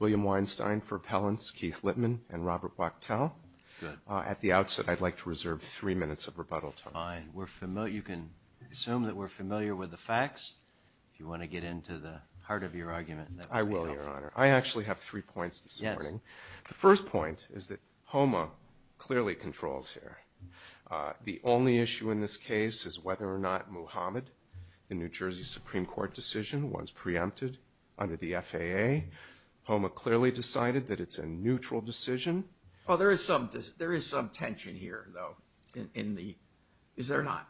William Weinstein for Appellants, Keith Litman and Robert Wachtell. At the outset, I'd like to reserve three minutes of rebuttal time. You can assume that we're familiar with the facts, if you want to get into the heart of your argument. I will, Your Honor. I actually have three points this morning. The first point is that HOMA clearly controls here. The only issue in this case is whether or not Muhammad, the New Jersey Supreme Court decision was preempted under the FAA. HOMA clearly decided that it's a neutral decision. Well, there is some tension here, though, is there not?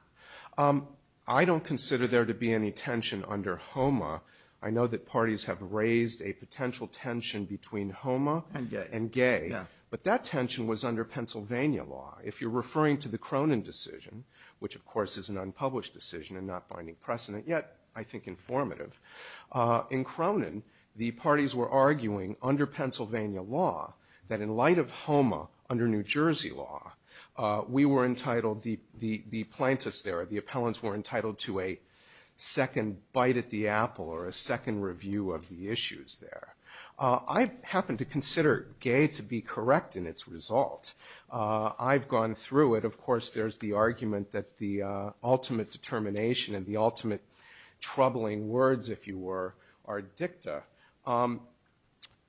I don't consider there to be any tension under HOMA. I know that parties have raised a potential tension between HOMA and gay, but that tension was under Pennsylvania law. If you're referring to the Cronin decision, which of course is an unpublished decision and not binding precedent, yet I think informative. In Cronin, the parties were arguing under Pennsylvania law that in light of HOMA under New Jersey law, we were entitled, the plaintiffs there, the appellants were entitled to a second bite at the apple or a second review of the issues there. I happen to consider gay to be correct in its result. I've gone through it. Of course, there's the argument that the ultimate determination and the ultimate troubling words, if you were, are dicta.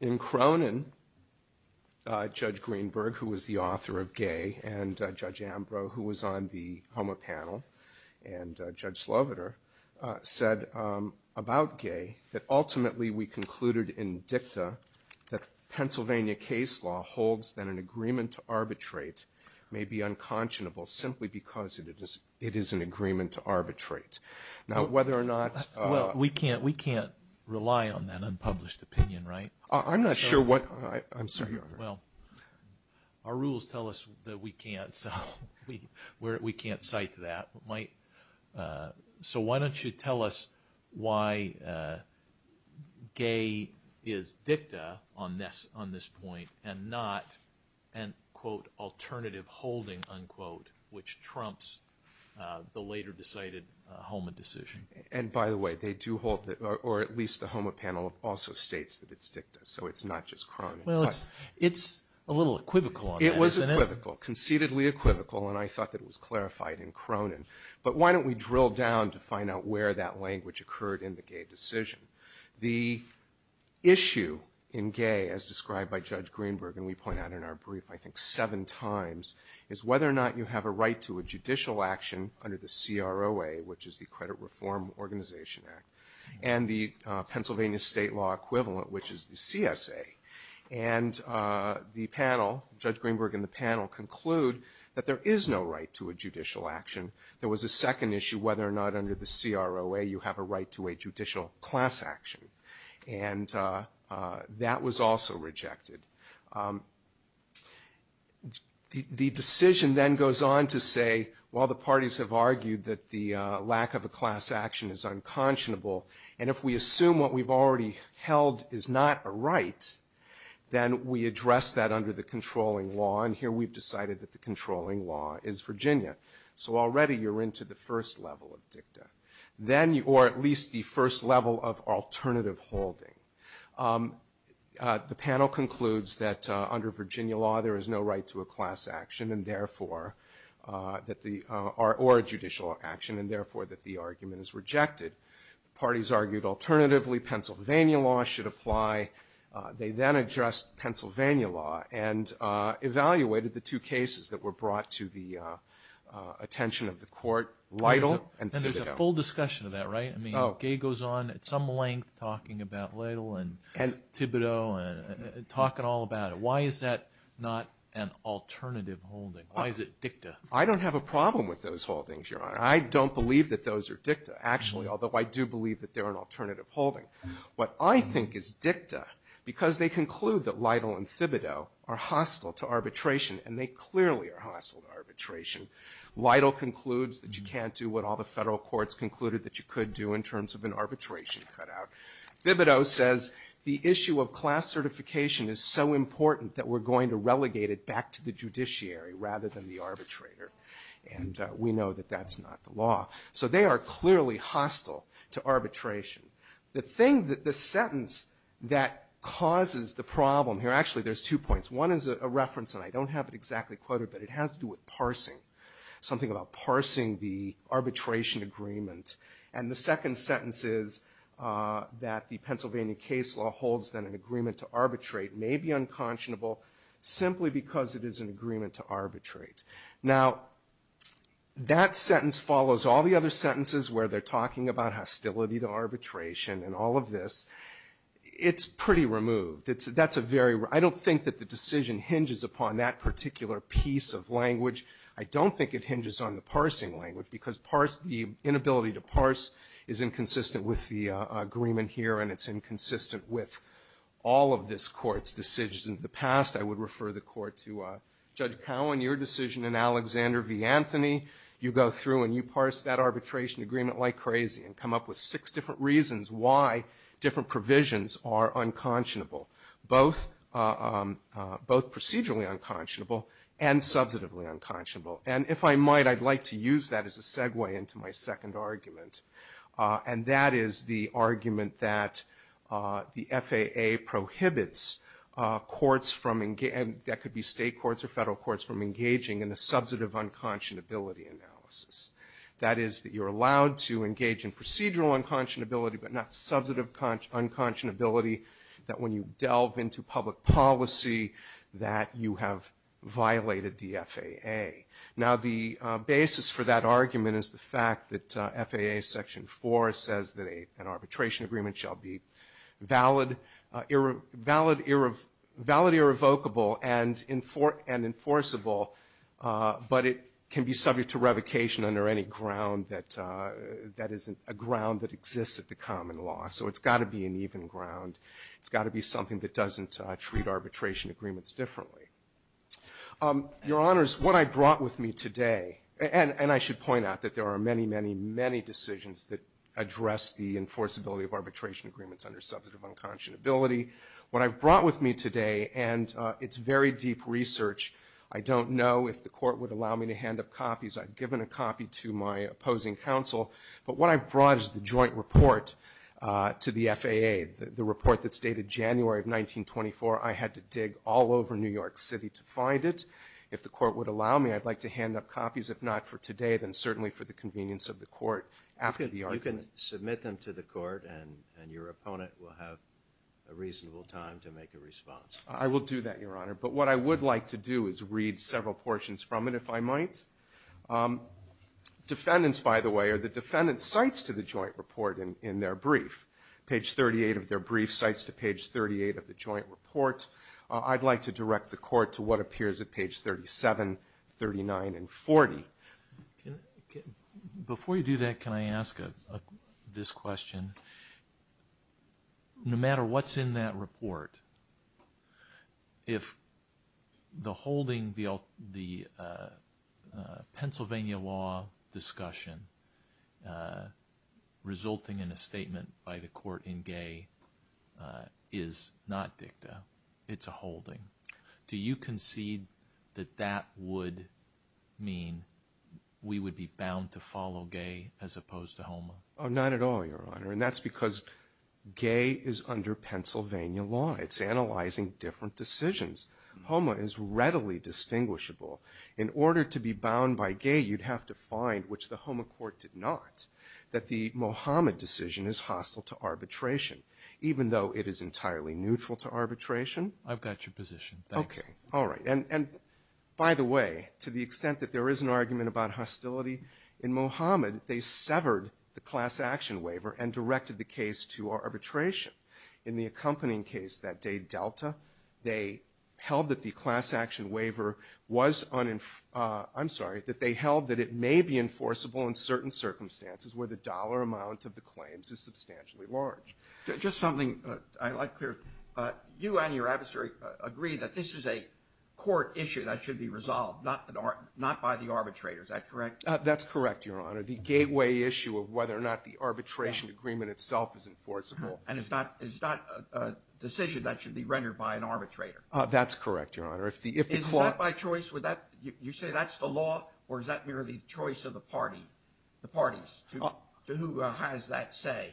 In Cronin, Judge Greenberg, who was the author of gay, and Judge Ambrose, who was on the side of Judge Sloviter, said about gay that ultimately we concluded in dicta that Pennsylvania case law holds that an agreement to arbitrate may be unconscionable simply because it is an agreement to arbitrate. Now whether or not... We can't rely on that unpublished opinion, right? I'm not sure what... I'm sorry, Your Honor. Our rules tell us that we can't. We can't cite that. So why don't you tell us why gay is dicta on this point and not an, quote, alternative holding, unquote, which trumps the later decided HOMA decision. And by the way, they do hold, or at least the HOMA panel also states that it's dicta, so it's not just Cronin. It's a little equivocal on that. It was equivocal. Conceitedly equivocal, and I thought that it was clarified in Cronin. But why don't we drill down to find out where that language occurred in the gay decision? The issue in gay, as described by Judge Greenberg, and we point out in our brief I think seven times, is whether or not you have a right to a judicial action under the CROA, which is the Credit Reform Organization Act, and the Pennsylvania state law equivalent, which is the CSA. And the panel, Judge Greenberg and the panel conclude that there is no right to a judicial action. There was a second issue, whether or not under the CROA you have a right to a judicial class action, and that was also rejected. The decision then goes on to say, while the parties have argued that the lack of a class action is unconscionable, and if we assume what we've already held is not a right, then we address that under the controlling law, and here we've decided that the controlling law is Virginia. So already you're into the first level of dicta, or at least the first level of alternative holding. The panel concludes that under Virginia law there is no right to a class action or a judicial action, and therefore that the argument is rejected. Parties argued alternatively Pennsylvania law should apply. They then addressed Pennsylvania law and evaluated the two cases that were brought to the attention of the court, Lytle and Thibodeau. And there's a full discussion of that, right? I mean, Gay goes on at some length talking about Lytle and Thibodeau and talking all about it. Why is that not an alternative holding? Why is it dicta? I don't have a problem with those holdings, Your Honor. I don't believe that those are dicta, actually, although I do believe that they're an alternative holding. What I think is dicta, because they conclude that Lytle and Thibodeau are hostile to arbitration, and they clearly are hostile to arbitration. Lytle concludes that you can't do what all the federal courts concluded that you could do in terms of an arbitration cutout. Thibodeau says the issue of class certification is so important that we're going to relegate it back to the judiciary rather than the arbitrator. And we know that that's not the law. So they are clearly hostile to arbitration. The thing that the sentence that causes the problem here, actually, there's two points. One is a reference, and I don't have it exactly quoted, but it has to do with parsing, something about parsing the arbitration agreement. And the second sentence is that the Pennsylvania case law holds that an agreement to arbitrate may be unconscionable simply because it is an agreement to arbitrate. Now, that sentence follows all the other sentences where they're talking about hostility to arbitration and all of this. It's pretty removed. It's — that's a very — I don't think that the decision hinges upon that particular piece of language. I don't think it hinges on the parsing language, because parse — the inability to parse is inconsistent with the agreement here, and it's inconsistent with all of this Court's decisions in the past. I would refer the Court to Judge Cowen, your decision in Alexander v. Anthony. You go through and you parse that arbitration agreement like crazy and come up with six different reasons why different provisions are unconscionable, both procedurally unconscionable and substantively unconscionable. And if I might, I'd like to use that as a segue into my second argument. And that is the argument that the FAA prohibits courts from — that could be state courts or federal courts — from engaging in the substantive unconscionability analysis. That is, that you're allowed to engage in procedural unconscionability, but not substantive unconscionability, that when you delve into public policy, that you have violated the FAA. Now, the basis for that argument is the fact that FAA Section 4 says that an arbitration agreement shall be valid, irrevocable, and enforceable, but it can be subject to revocation under any ground that — that isn't a ground that exists at the common law. So it's got to be an even ground. It's got to be something that doesn't treat arbitration agreements differently. Your Honors, what I brought with me today — and I should point out that there are many, many, many decisions that address the enforceability of arbitration agreements under substantive unconscionability. What I've brought with me today — and it's very deep research. I don't know if the Court would allow me to hand up copies. I've given a copy to my opposing counsel. But what I've brought is the joint report to the FAA, the report that's dated January of 1924. I had to dig all over New York City to find it. If the Court would allow me, I'd like to hand up copies. If not for today, then certainly for the convenience of the Court after the argument. You can submit them to the Court, and your opponent will have a reasonable time to make a response. I will do that, Your Honor. But what I would like to do is read several portions from it, if I might. Defendants, by the way, are the defendants' sites to the joint report in their brief. Page 38 of their brief cites to page 38 of the joint report. I'd like to direct the Court to what appears at page 37, 39, and 40. Before you do that, can I ask this question? No matter what's in that report, if the holding the Pennsylvania law discussion resulting in a statement by the Court in Gay is not dicta, it's a holding, do you concede that that would mean we would be bound to follow Gay as opposed to HOMA? Oh, not at all, Your Honor, and that's because Gay is under Pennsylvania law. It's analyzing different decisions. HOMA is readily distinguishable. In order to be bound by Gay, you'd have to find, which the HOMA Court did not, that the Mohammed decision is hostile to arbitration, even though it is entirely neutral to arbitration. I've got your position, thanks. Okay, all right. And by the way, to the extent that there is an argument about hostility in Mohammed, they severed the class action waiver and directed the case to arbitration. In the accompanying case that day, Delta, they held that the class action waiver was unenforce, I'm sorry, that they held that it may be enforceable in certain circumstances where the dollar amount of the claims is substantially large. Just something I'd like to, you and your adversary agree that this is a court issue that should be resolved, not by the arbitrator, is that correct? That's correct, Your Honor. The gateway issue of whether or not the arbitration agreement itself is enforceable. And it's not a decision that should be rendered by an arbitrator. That's correct, Your Honor. Is that by choice? Would that, you say that's the law, or is that merely choice of the party? The parties, to who has that say?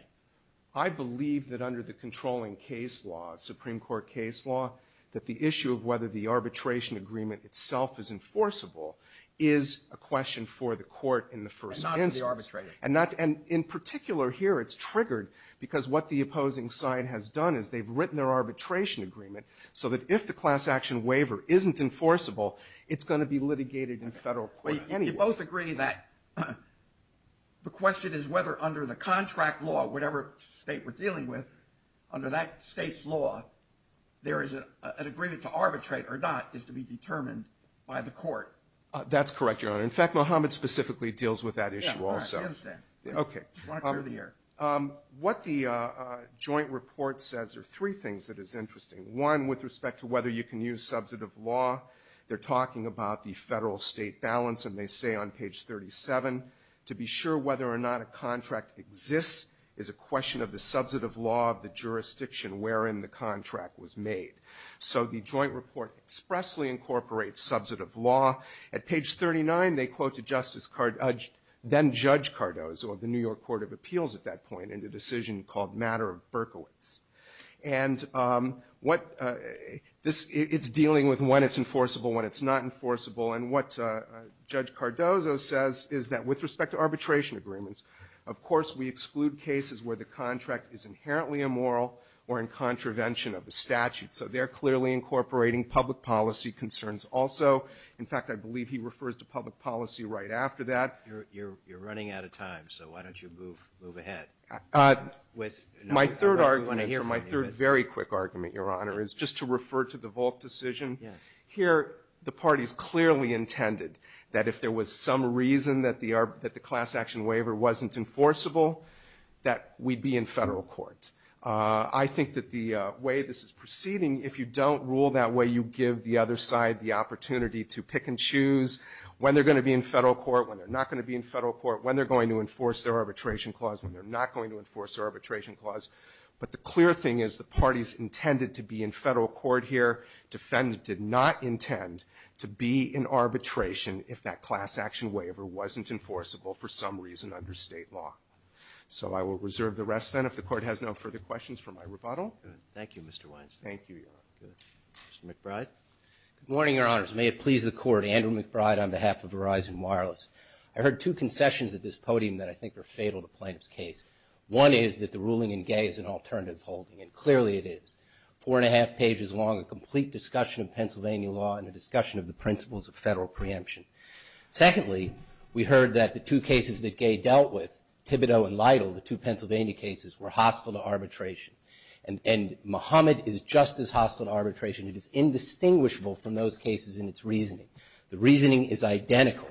I believe that under the controlling case law, Supreme Court case law, that the issue of whether the arbitration agreement itself is enforceable is a question for the court in the first instance. And not for the arbitrator. And in particular here, it's triggered because what the opposing side has done is they've written their arbitration agreement so that if the class action waiver isn't enforceable, it's going to be litigated in federal court. You both agree that the question is whether under the contract law, whatever state we're dealing with, under that state's law, there is an agreement to arbitrate or not is to be determined by the court. That's correct, Your Honor. In fact, Muhammad specifically deals with that issue also. Yeah, all right, I understand. OK. Just wanted to clear the air. What the joint report says are three things that is interesting. One, with respect to whether you can use substantive law, they're talking about the federal state balance. And they say on page 37, to be sure whether or not a contract exists is a question of the substantive law of the jurisdiction wherein the contract was made. So the joint report expressly incorporates substantive law. At page 39, they quote to Justice Cardozo, then Judge Cardozo of the New York Court of Appeals at that point, in a decision called Matter of Berkowitz. And what this, it's dealing with when it's enforceable, when it's not enforceable. And what Judge Cardozo says is that with respect to arbitration agreements, of course we exclude cases where the contract is inherently immoral or in contravention of the statute. So they're clearly incorporating public policy concerns also. In fact, I believe he refers to public policy right after that. You're running out of time, so why don't you move ahead with. My third argument, or my third very quick argument, Your Honor, is just to refer to the Volk decision. Here, the parties clearly intended that if there was some reason that the class action waiver wasn't enforceable, that we'd be in Federal court. I think that the way this is proceeding, if you don't rule that way, you give the other side the opportunity to pick and choose when they're going to be in Federal court, when they're not going to be in Federal court, when they're going to enforce their arbitration clause, when they're not going to enforce their arbitration clause, but the clear thing is the parties intended to be in Federal court here, defendant did not intend to be in arbitration if that class action waiver wasn't enforceable for some reason under State law. So I will reserve the rest then if the Court has no further questions for my rebuttal. Thank you, Mr. Weinstein. Thank you, Your Honor. Mr. McBride. Good morning, Your Honors. May it please the Court, Andrew McBride on behalf of Verizon Wireless. I heard two concessions at this podium that I think are fatal to plaintiff's case. One is that the ruling in Gay is an alternative holding, and clearly it is. Four and a half pages long, a complete discussion of Pennsylvania law and a discussion of the principles of Federal preemption. Secondly, we heard that the two cases that Gay dealt with, Thibodeau and Lytle, the two Pennsylvania cases, were hostile to arbitration. And Mohammed is just as hostile to arbitration. It is indistinguishable from those cases in its reasoning. The reasoning is identical,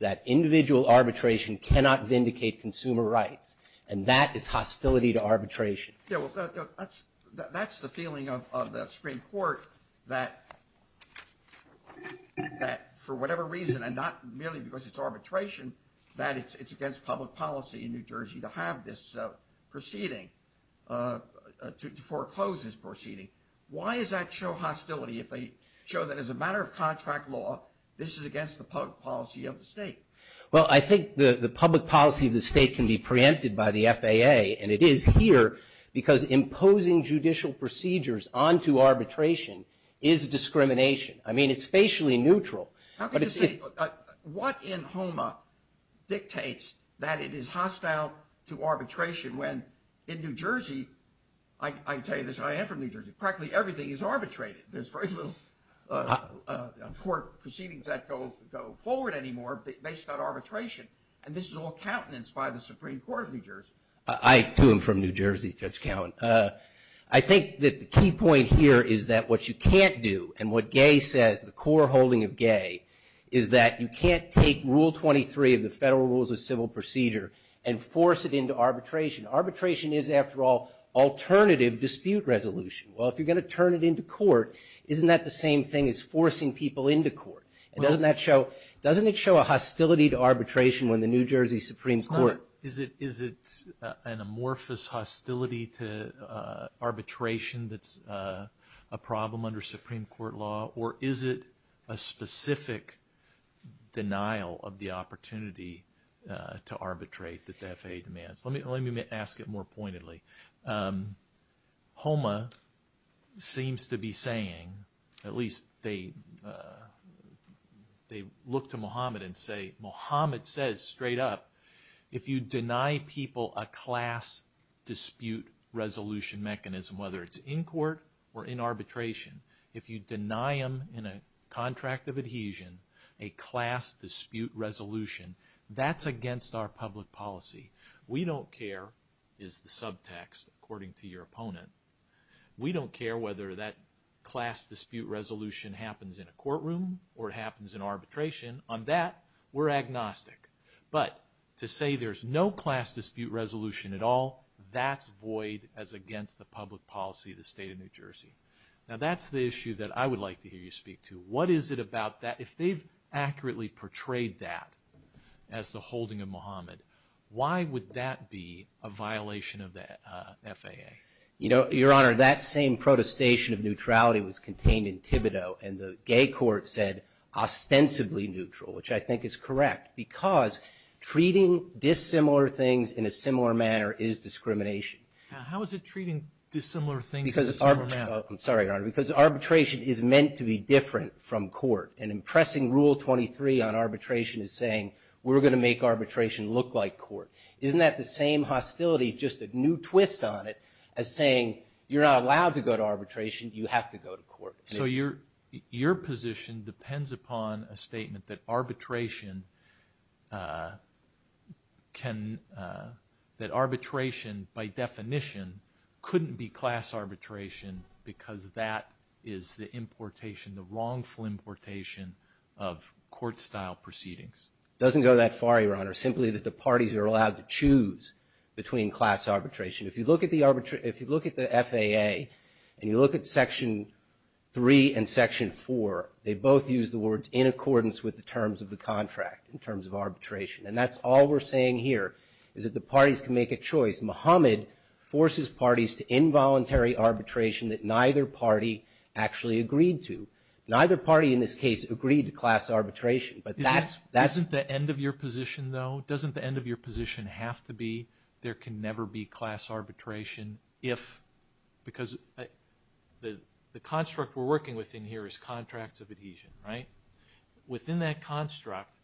that individual arbitration cannot vindicate consumer rights. And that is hostility to arbitration. Yeah, well, that's the feeling of the Supreme Court, that for whatever reason, and not merely because it's arbitration, that it's against public policy in New Jersey to have this proceeding, to foreclose this proceeding. Why does that show hostility if they show that as a matter of contract law, this is against the public policy of the state? Well, I think the public policy of the state can be preempted by the FAA, and it is here because imposing judicial procedures onto arbitration is discrimination. I mean, it's facially neutral. How can you say, what in HOMA dictates that it is hostile to arbitration when in New Jersey, I can tell you this, I am from New Jersey, practically everything is arbitrated. There's very little court proceedings that go forward anymore based on arbitration. And this is all countenance by the Supreme Court of New Jersey. I, too, am from New Jersey, Judge Cowen. I think that the key point here is that what you can't do, and what Gay says, the core holding of Gay, is that you can't take Rule 23 of the Federal Rules of Civil Procedure and force it into arbitration. Arbitration is, after all, alternative dispute resolution. Well, if you're gonna turn it into court, isn't that the same thing as forcing people into court? And doesn't that show, doesn't it show a hostility to arbitration when the New Jersey Supreme Court- Is it an amorphous hostility to arbitration that's a problem under Supreme Court law, or is it a specific denial of the opportunity to arbitrate that the FAA demands? Let me ask it more pointedly. HOMA seems to be saying, at least they look to Mohammed and say, Mohammed says straight up, if you deny people a class dispute resolution mechanism, whether it's in court or in arbitration, if you deny them in a contract of adhesion a class dispute resolution, that's against our public policy. We don't care, is the subtext, according to your opponent. We don't care whether that class dispute resolution happens in a courtroom or it happens in arbitration. On that, we're agnostic. But to say there's no class dispute resolution at all, that's void as against the public policy of the state of New Jersey. Now that's the issue that I would like to hear you speak to. What is it about that, if they've accurately portrayed that as the holding of Mohammed, why would that be a violation of the FAA? Your Honor, that same protestation of neutrality was contained in Thibodeau, and the gay court said, ostensibly neutral, which I think is correct. Because treating dissimilar things in a similar manner is discrimination. How is it treating dissimilar things in a similar manner? I'm sorry, Your Honor, because arbitration is meant to be different from court. And in pressing rule 23 on arbitration is saying, we're going to make arbitration look like court. Isn't that the same hostility, just a new twist on it, as saying, you're not allowed to go to arbitration, you have to go to court? So your position depends upon a statement that arbitration by definition couldn't be class arbitration because that is the importation, the wrongful importation of court-style proceedings. Doesn't go that far, Your Honor, simply that the parties are allowed to choose between class arbitration. If you look at the FAA, and you look at Section 3 and Section 4, they both use the words in accordance with the terms of the contract, in terms of arbitration. And that's all we're saying here, is that the parties can make a choice. Mohammed forces parties to involuntary arbitration that neither party actually agreed to. Neither party in this case agreed to class arbitration, but that's- Isn't the end of your position, though, doesn't the end of your position have to be there can never be class arbitration if, because the construct we're working with in here is contracts of adhesion, right? Within that construct,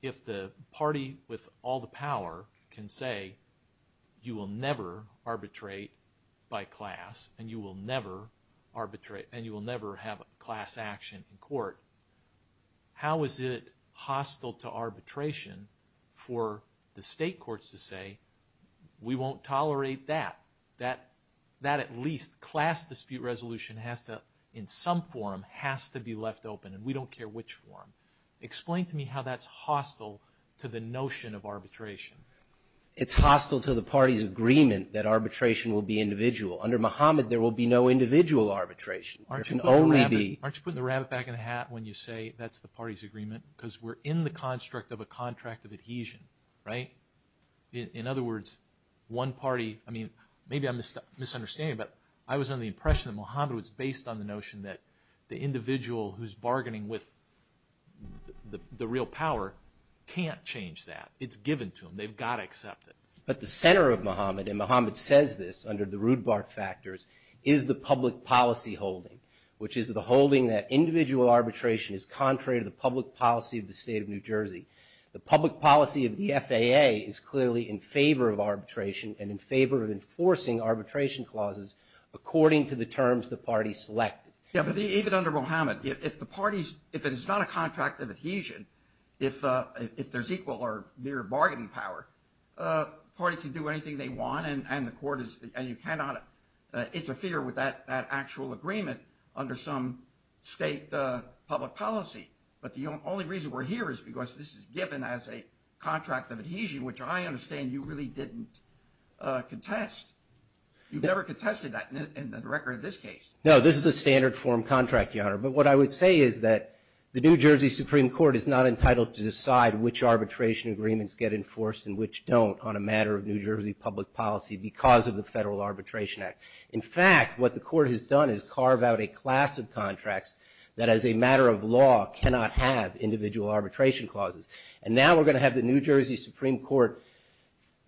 if the party with all the power can say, you will never arbitrate by class, and you will never arbitrate, and you will never have class action in court, how is it hostile to arbitration for the state courts to say, we won't tolerate that? That at least class dispute resolution has to, in some form, has to be left open, and we don't care which form. Explain to me how that's hostile to the notion of arbitration. It's hostile to the party's agreement that arbitration will be individual. Under Mohammed, there will be no individual arbitration. There can only be- When you say that's the party's agreement, because we're in the construct of a contract of adhesion, right? In other words, one party, I mean, maybe I'm misunderstanding, but I was under the impression that Mohammed was based on the notion that the individual who's bargaining with the real power can't change that. It's given to them. They've got to accept it. But the center of Mohammed, and Mohammed says this under the Rudbart factors, is the public policy holding, which is the holding that individual arbitration is contrary to the public policy of the state of New Jersey. The public policy of the FAA is clearly in favor of arbitration, and in favor of enforcing arbitration clauses according to the terms the party selected. Yeah, but even under Mohammed, if the party's, if it is not a contract of adhesion, if there's equal or mere bargaining power, a party can do anything they want, and the court is, and you cannot interfere with that actual agreement under some state public policy. But the only reason we're here is because this is given as a contract of adhesion, which I understand you really didn't contest. You've never contested that in the record of this case. No, this is a standard form contract, Your Honor. But what I would say is that the New Jersey Supreme Court is not entitled to decide which arbitration agreements get enforced and which don't on a matter of New Jersey public policy because of the Federal Arbitration Act. In fact, what the court has done is carve out a class of contracts that as a matter of law cannot have individual arbitration clauses. And now we're going to have the New Jersey Supreme Court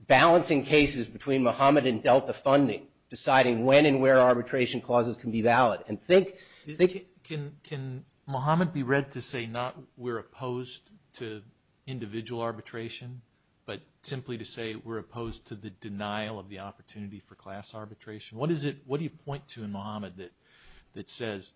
balancing cases between Mohammed and Delta funding, deciding when and where arbitration clauses can be valid. And think, can Mohammed be read to say not we're opposed to individual arbitration, but simply to say we're opposed to the denial of the opportunity for class arbitration? What is it, what do you point to in Mohammed that says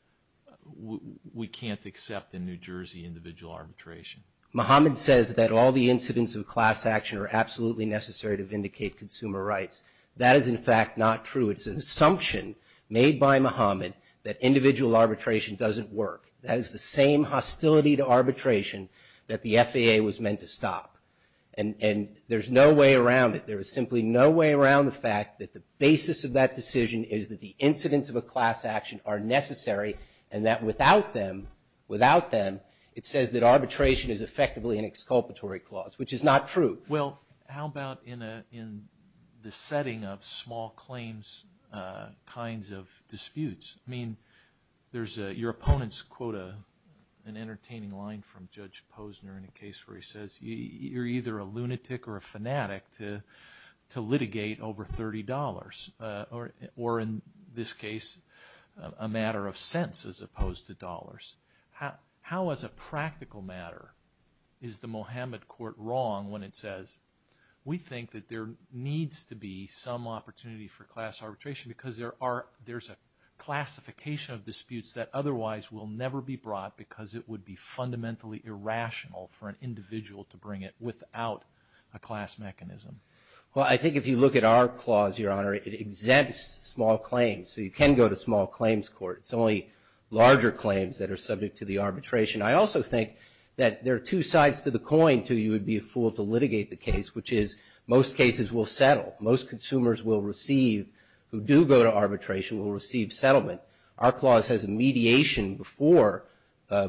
we can't accept in New Jersey individual arbitration? Mohammed says that all the incidents of class action are absolutely necessary to vindicate consumer rights. That is in fact not true. It's an assumption made by Mohammed that individual arbitration doesn't work. That is the same hostility to arbitration that the FAA was meant to stop. And there's no way around it. There is simply no way around the fact that the basis of that decision is that the incidents of a class action are necessary and that without them, without them, it says that arbitration is effectively an exculpatory clause, which is not true. Well, how about in the setting of small claims kinds of disputes? I mean, there's a, your opponents quote an entertaining line from Judge Posner in a case where he says you're either a lunatic or a fanatic to litigate over $30 or in this case, a matter of cents as opposed to dollars. How as a practical matter is the Mohammed court wrong when it says we think that there needs to be some opportunity for class arbitration because there are, there's a classification of disputes that otherwise will never be brought because it would be fundamentally irrational for an individual to bring it without a class mechanism? Well, I think if you look at our clause, Your Honor, it exempts small claims. So you can go to small claims court. It's only larger claims that are subject to the arbitration. I also think that there are two sides to the coin to you would be a fool to litigate the case, which is most cases will settle. Most consumers will receive, who do go to arbitration, will receive settlement. Our clause has a mediation before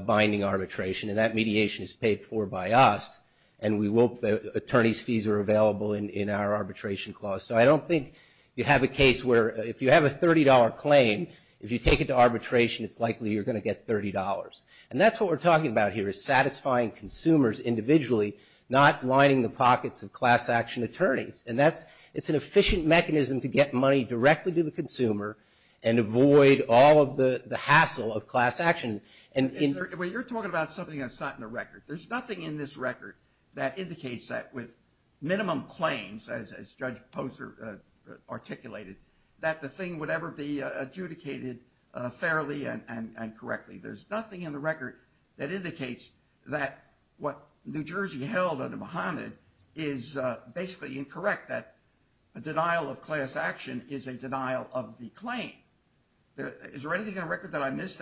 binding arbitration and that mediation is paid for by us and we will, attorney's fees are available in our arbitration clause. So I don't think you have a case where if you have a $30 claim, if you take it to arbitration it's likely you're going to get $30. And that's what we're talking about here is satisfying consumers individually, not lining the pockets of class action attorneys. And that's, it's an efficient mechanism to get money directly to the consumer and avoid all of the hassle of class action. And in. Well, you're talking about something that's not in the record. There's nothing in this record that indicates that with minimum claims, as Judge Posner articulated, that the thing would ever be adjudicated fairly and correctly. There's nothing in the record that indicates that what New Jersey held in Mohammed is basically incorrect, that a denial of class action is a denial of the claim. Is there anything in the record that I missed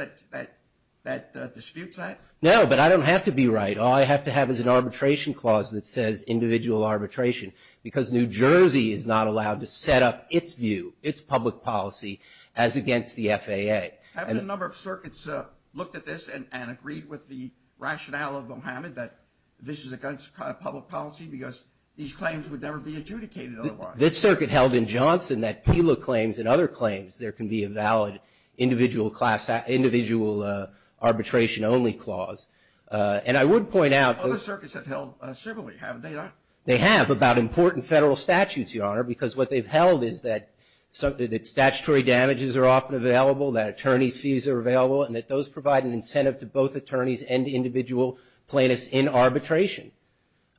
that disputes that? No, but I don't have to be right. All I have to have is an arbitration clause that says individual arbitration because New Jersey is not allowed to set up its view, its public policy as against the FAA. Have a number of circuits looked at this and agreed with the rationale of Mohammed that this is against public policy because these claims would never be adjudicated otherwise. This circuit held in Johnson that TILA claims and other claims, there can be a valid individual arbitration only clause. And I would point out. Other circuits have held similarly, haven't they? They have about important federal statutes, Your Honor, because what they've held is that statutory damages are often available, that attorney's fees are available, and that those provide an incentive to both attorneys and individual plaintiffs in arbitration.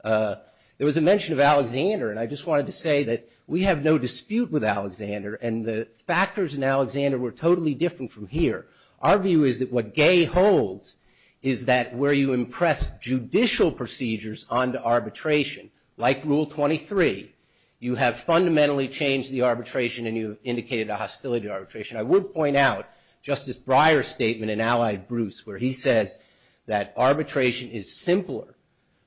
There was a mention of Alexander, and I just wanted to say that we have no dispute with Alexander, and the factors in Alexander were totally different from here. Our view is that what Gay holds is that where you impress judicial procedures onto arbitration, like Rule 23, you have fundamentally changed the arbitration and you indicated a hostility arbitration. I would point out Justice Breyer's statement in Allied Bruce where he says that arbitration is simpler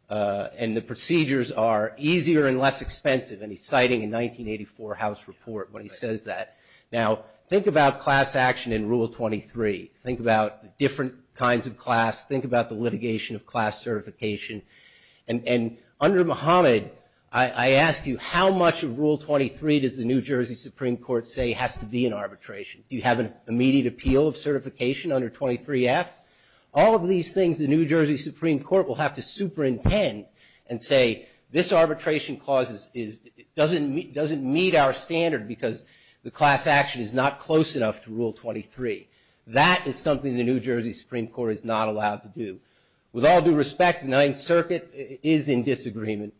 and the procedures are easier and less expensive, and he's citing a 1984 House report when he says that. Now, think about class action in Rule 23. Think about different kinds of class. Think about the litigation of class certification. And under Mohammed, I ask you, how much of Rule 23 does the New Jersey Supreme Court say has to be in arbitration? Do you have an immediate appeal of certification under 23F? All of these things the New Jersey Supreme Court will have to superintend and say this arbitration clause doesn't meet our standard because the class action is not close enough to Rule 23. That is something the New Jersey Supreme Court is not allowed to do. With all due respect, Ninth Circuit is in disagreement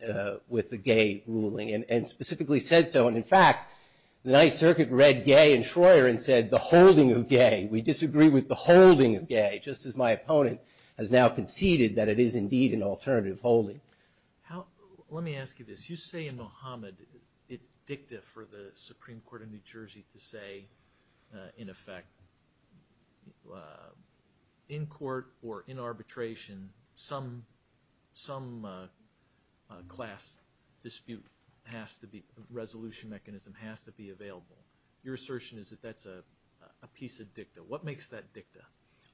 with the Gay ruling and specifically said so, and in fact, the Ninth Circuit read Gay and Schroer and said the holding of Gay, we disagree with the holding of Gay, just as my opponent has now conceded that it is indeed an alternative holding. How, let me ask you this. You say in Mohammed it's dicta for the Supreme Court of New Jersey to say, in effect, in court or in arbitration, some class dispute resolution mechanism has to be available. Your assertion is that that's a piece of dicta. What makes that dicta?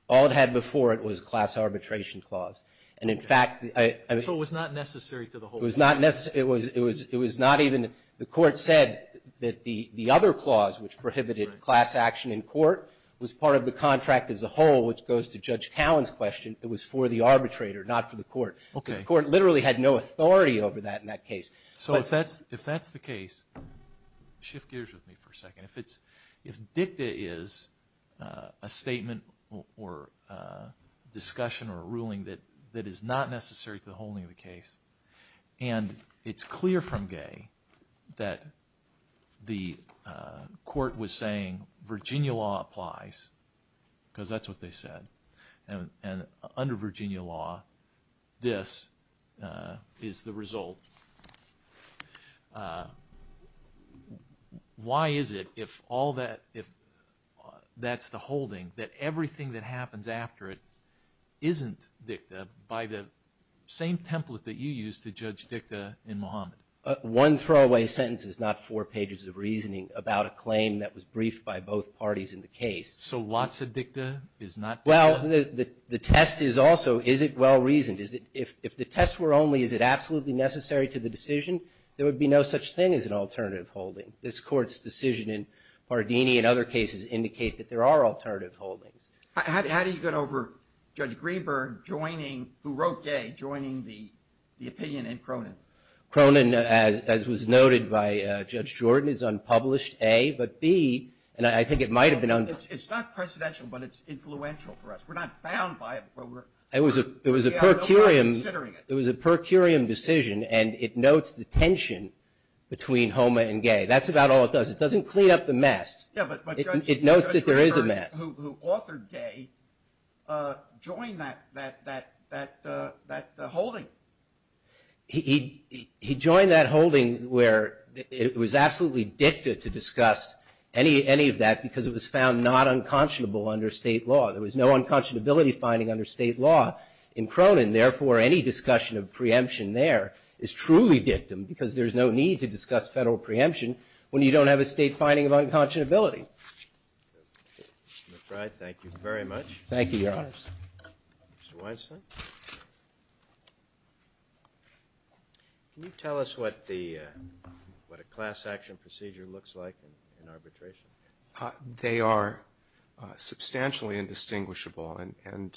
All it had before it was a class arbitration clause. And in fact, I mean. So it was not necessary to the whole. It was not necessary. It was not even, the court said that the other clause, which prohibited class action in court, was part of the contract as a whole, which goes to Judge Cowen's question. It was for the arbitrator, not for the court. The court literally had no authority over that in that case. So if that's the case, shift gears with me for a second. If dicta is a statement or a discussion or a ruling that is not necessary to the holding of the case, and it's clear from Gay that the court was saying Virginia law applies, because that's what they said. And under Virginia law, this is the result. Why is it, if all that, if that's the holding, that everything that happens after it isn't dicta by the same template that you used to judge dicta in Mohammed? One throwaway sentence is not four pages of reasoning about a claim that was briefed by both parties in the case. So lots of dicta is not dicta? Well, the test is also, is it well-reasoned? Is it, if the tests were only, is it absolutely necessary to the decision, there would be no such thing as an alternative holding. This Court's decision in Pardini and other cases indicate that there are alternative holdings. How do you get over Judge Greenberg joining, who wrote Gay, joining the opinion in Cronin? Cronin, as was noted by Judge Jordan, is unpublished, A, but B, and I think it might have been unpublished. It's not precedential, but it's influential for us. We're not bound by it, but we're considering it. It was a per curiam decision, and it notes the tension between Homa and Gay. That's about all it does. It doesn't clean up the mess. Yeah, but Judge Greenberg, who authored Gay, joined that holding. He joined that holding where it was absolutely dicta to discuss any of that because it was found not unconscionable under State law. There was no unconscionability finding under State law in Cronin. Therefore, any discussion of preemption there is truly dictum because there's no need to discuss Federal preemption when you don't have a State finding of unconscionability. Mr. McBride, thank you very much. Thank you, Your Honors. Mr. Weinstein. Can you tell us what a class action procedure looks like in arbitration? They are substantially indistinguishable, and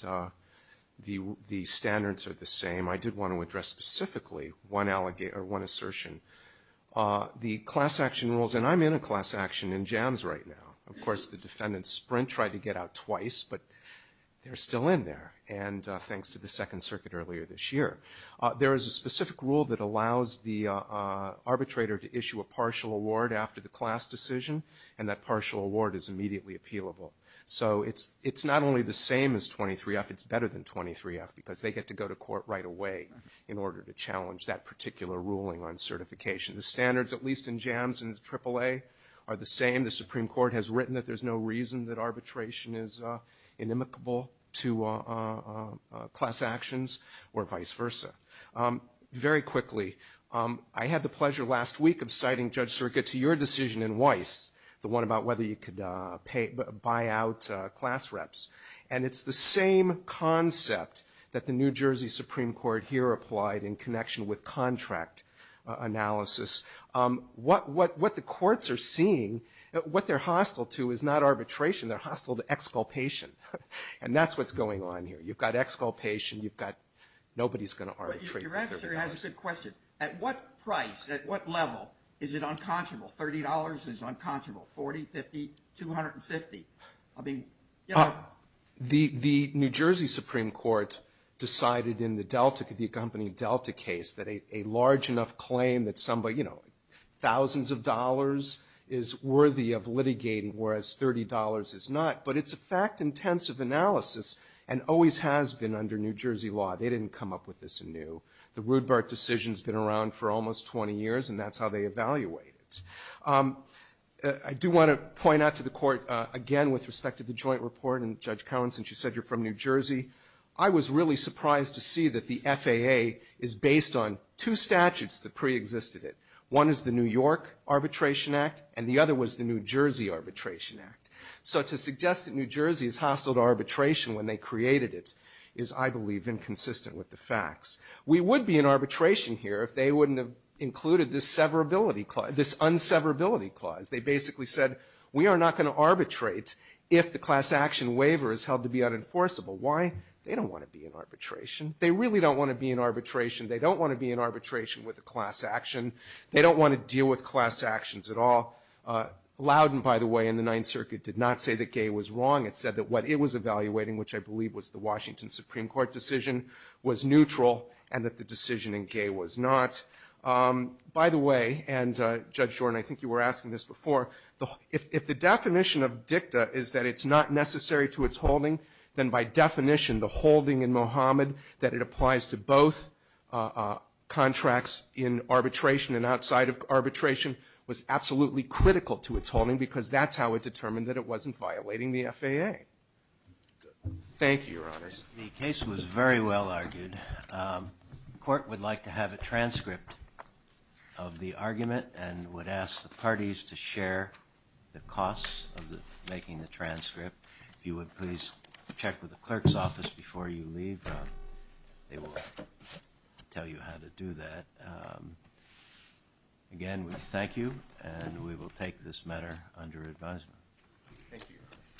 the standards are the same. I did want to address specifically one assertion. The class action rules, and I'm in a class action in jams right now. Of course, the defendants sprint, try to get out twice, but they're still in there. Thanks to the Second Circuit earlier this year. There is a specific rule that allows the arbitrator to issue a partial award after the class decision, and that partial award is immediately appealable. It's not only the same as 23-F, it's better than 23-F because they get to go to court right away in order to challenge that particular ruling on certification. The standards, at least in jams and AAA, are the same. The Supreme Court has written that there's no reason that arbitration is inimicable to class actions or vice versa. Very quickly, I had the pleasure last week of citing Judge Sirica to your decision in Weiss, the one about whether you could buy out class reps, and it's the same concept that the New Jersey Supreme Court here applied in connection with contract analysis. What the courts are seeing, what they're hostile to is not arbitration, they're hostile to exculpation, and that's what's going on here. You've got exculpation, you've got nobody's going to arbitrate for $30. Your answer has a good question. At what price, at what level is it unconscionable? $30 is unconscionable, $40, $50, $250? I mean, you know. The New Jersey Supreme Court decided in the Delta, the accompanying Delta case, that a large enough claim that somebody, you know, thousands of dollars is worthy of litigating, whereas $30 is not. But it's a fact-intensive analysis, and always has been under New Jersey law. They didn't come up with this anew. The Rudebart decision's been around for almost 20 years, and that's how they evaluate it. I do want to point out to the court, again, with respect to the joint report, and Judge Cowen, since you said you're from New Jersey, I was really surprised to see that the FAA is based on two statutes that preexisted it. One is the New York Arbitration Act, and the other was the New Jersey Arbitration Act. So to suggest that New Jersey is hostile to arbitration when they created it is, I believe, inconsistent with the facts. We would be in arbitration here if they wouldn't have included this severability, this unseverability clause. They basically said, we are not going to arbitrate if the class action waiver is held to be unenforceable. Why? They don't want to be in arbitration. They really don't want to be in arbitration. They don't want to be in arbitration with a class action. They don't want to deal with class actions at all. Loudon, by the way, in the Ninth Circuit, did not say that Gaye was wrong. It said that what it was evaluating, which I believe was the Washington Supreme Court decision, was neutral, and that the decision in Gaye was not. By the way, and Judge Jordan, I think you were asking this before, if the definition of dicta is that it's not necessary to its holding, then by definition, the holding in Mohamed that it applies to both contracts in arbitration and outside of arbitration was absolutely critical to its holding because that's how it determined that it wasn't violating the FAA. Thank you, Your Honors. The case was very well argued. The Court would like to have a transcript of the argument and would ask the parties to share the costs of making the transcript. If you would please check with the clerk's office before you leave, they will tell you how to do that. Again, we thank you, and we will take this matter under advisement. Thank you.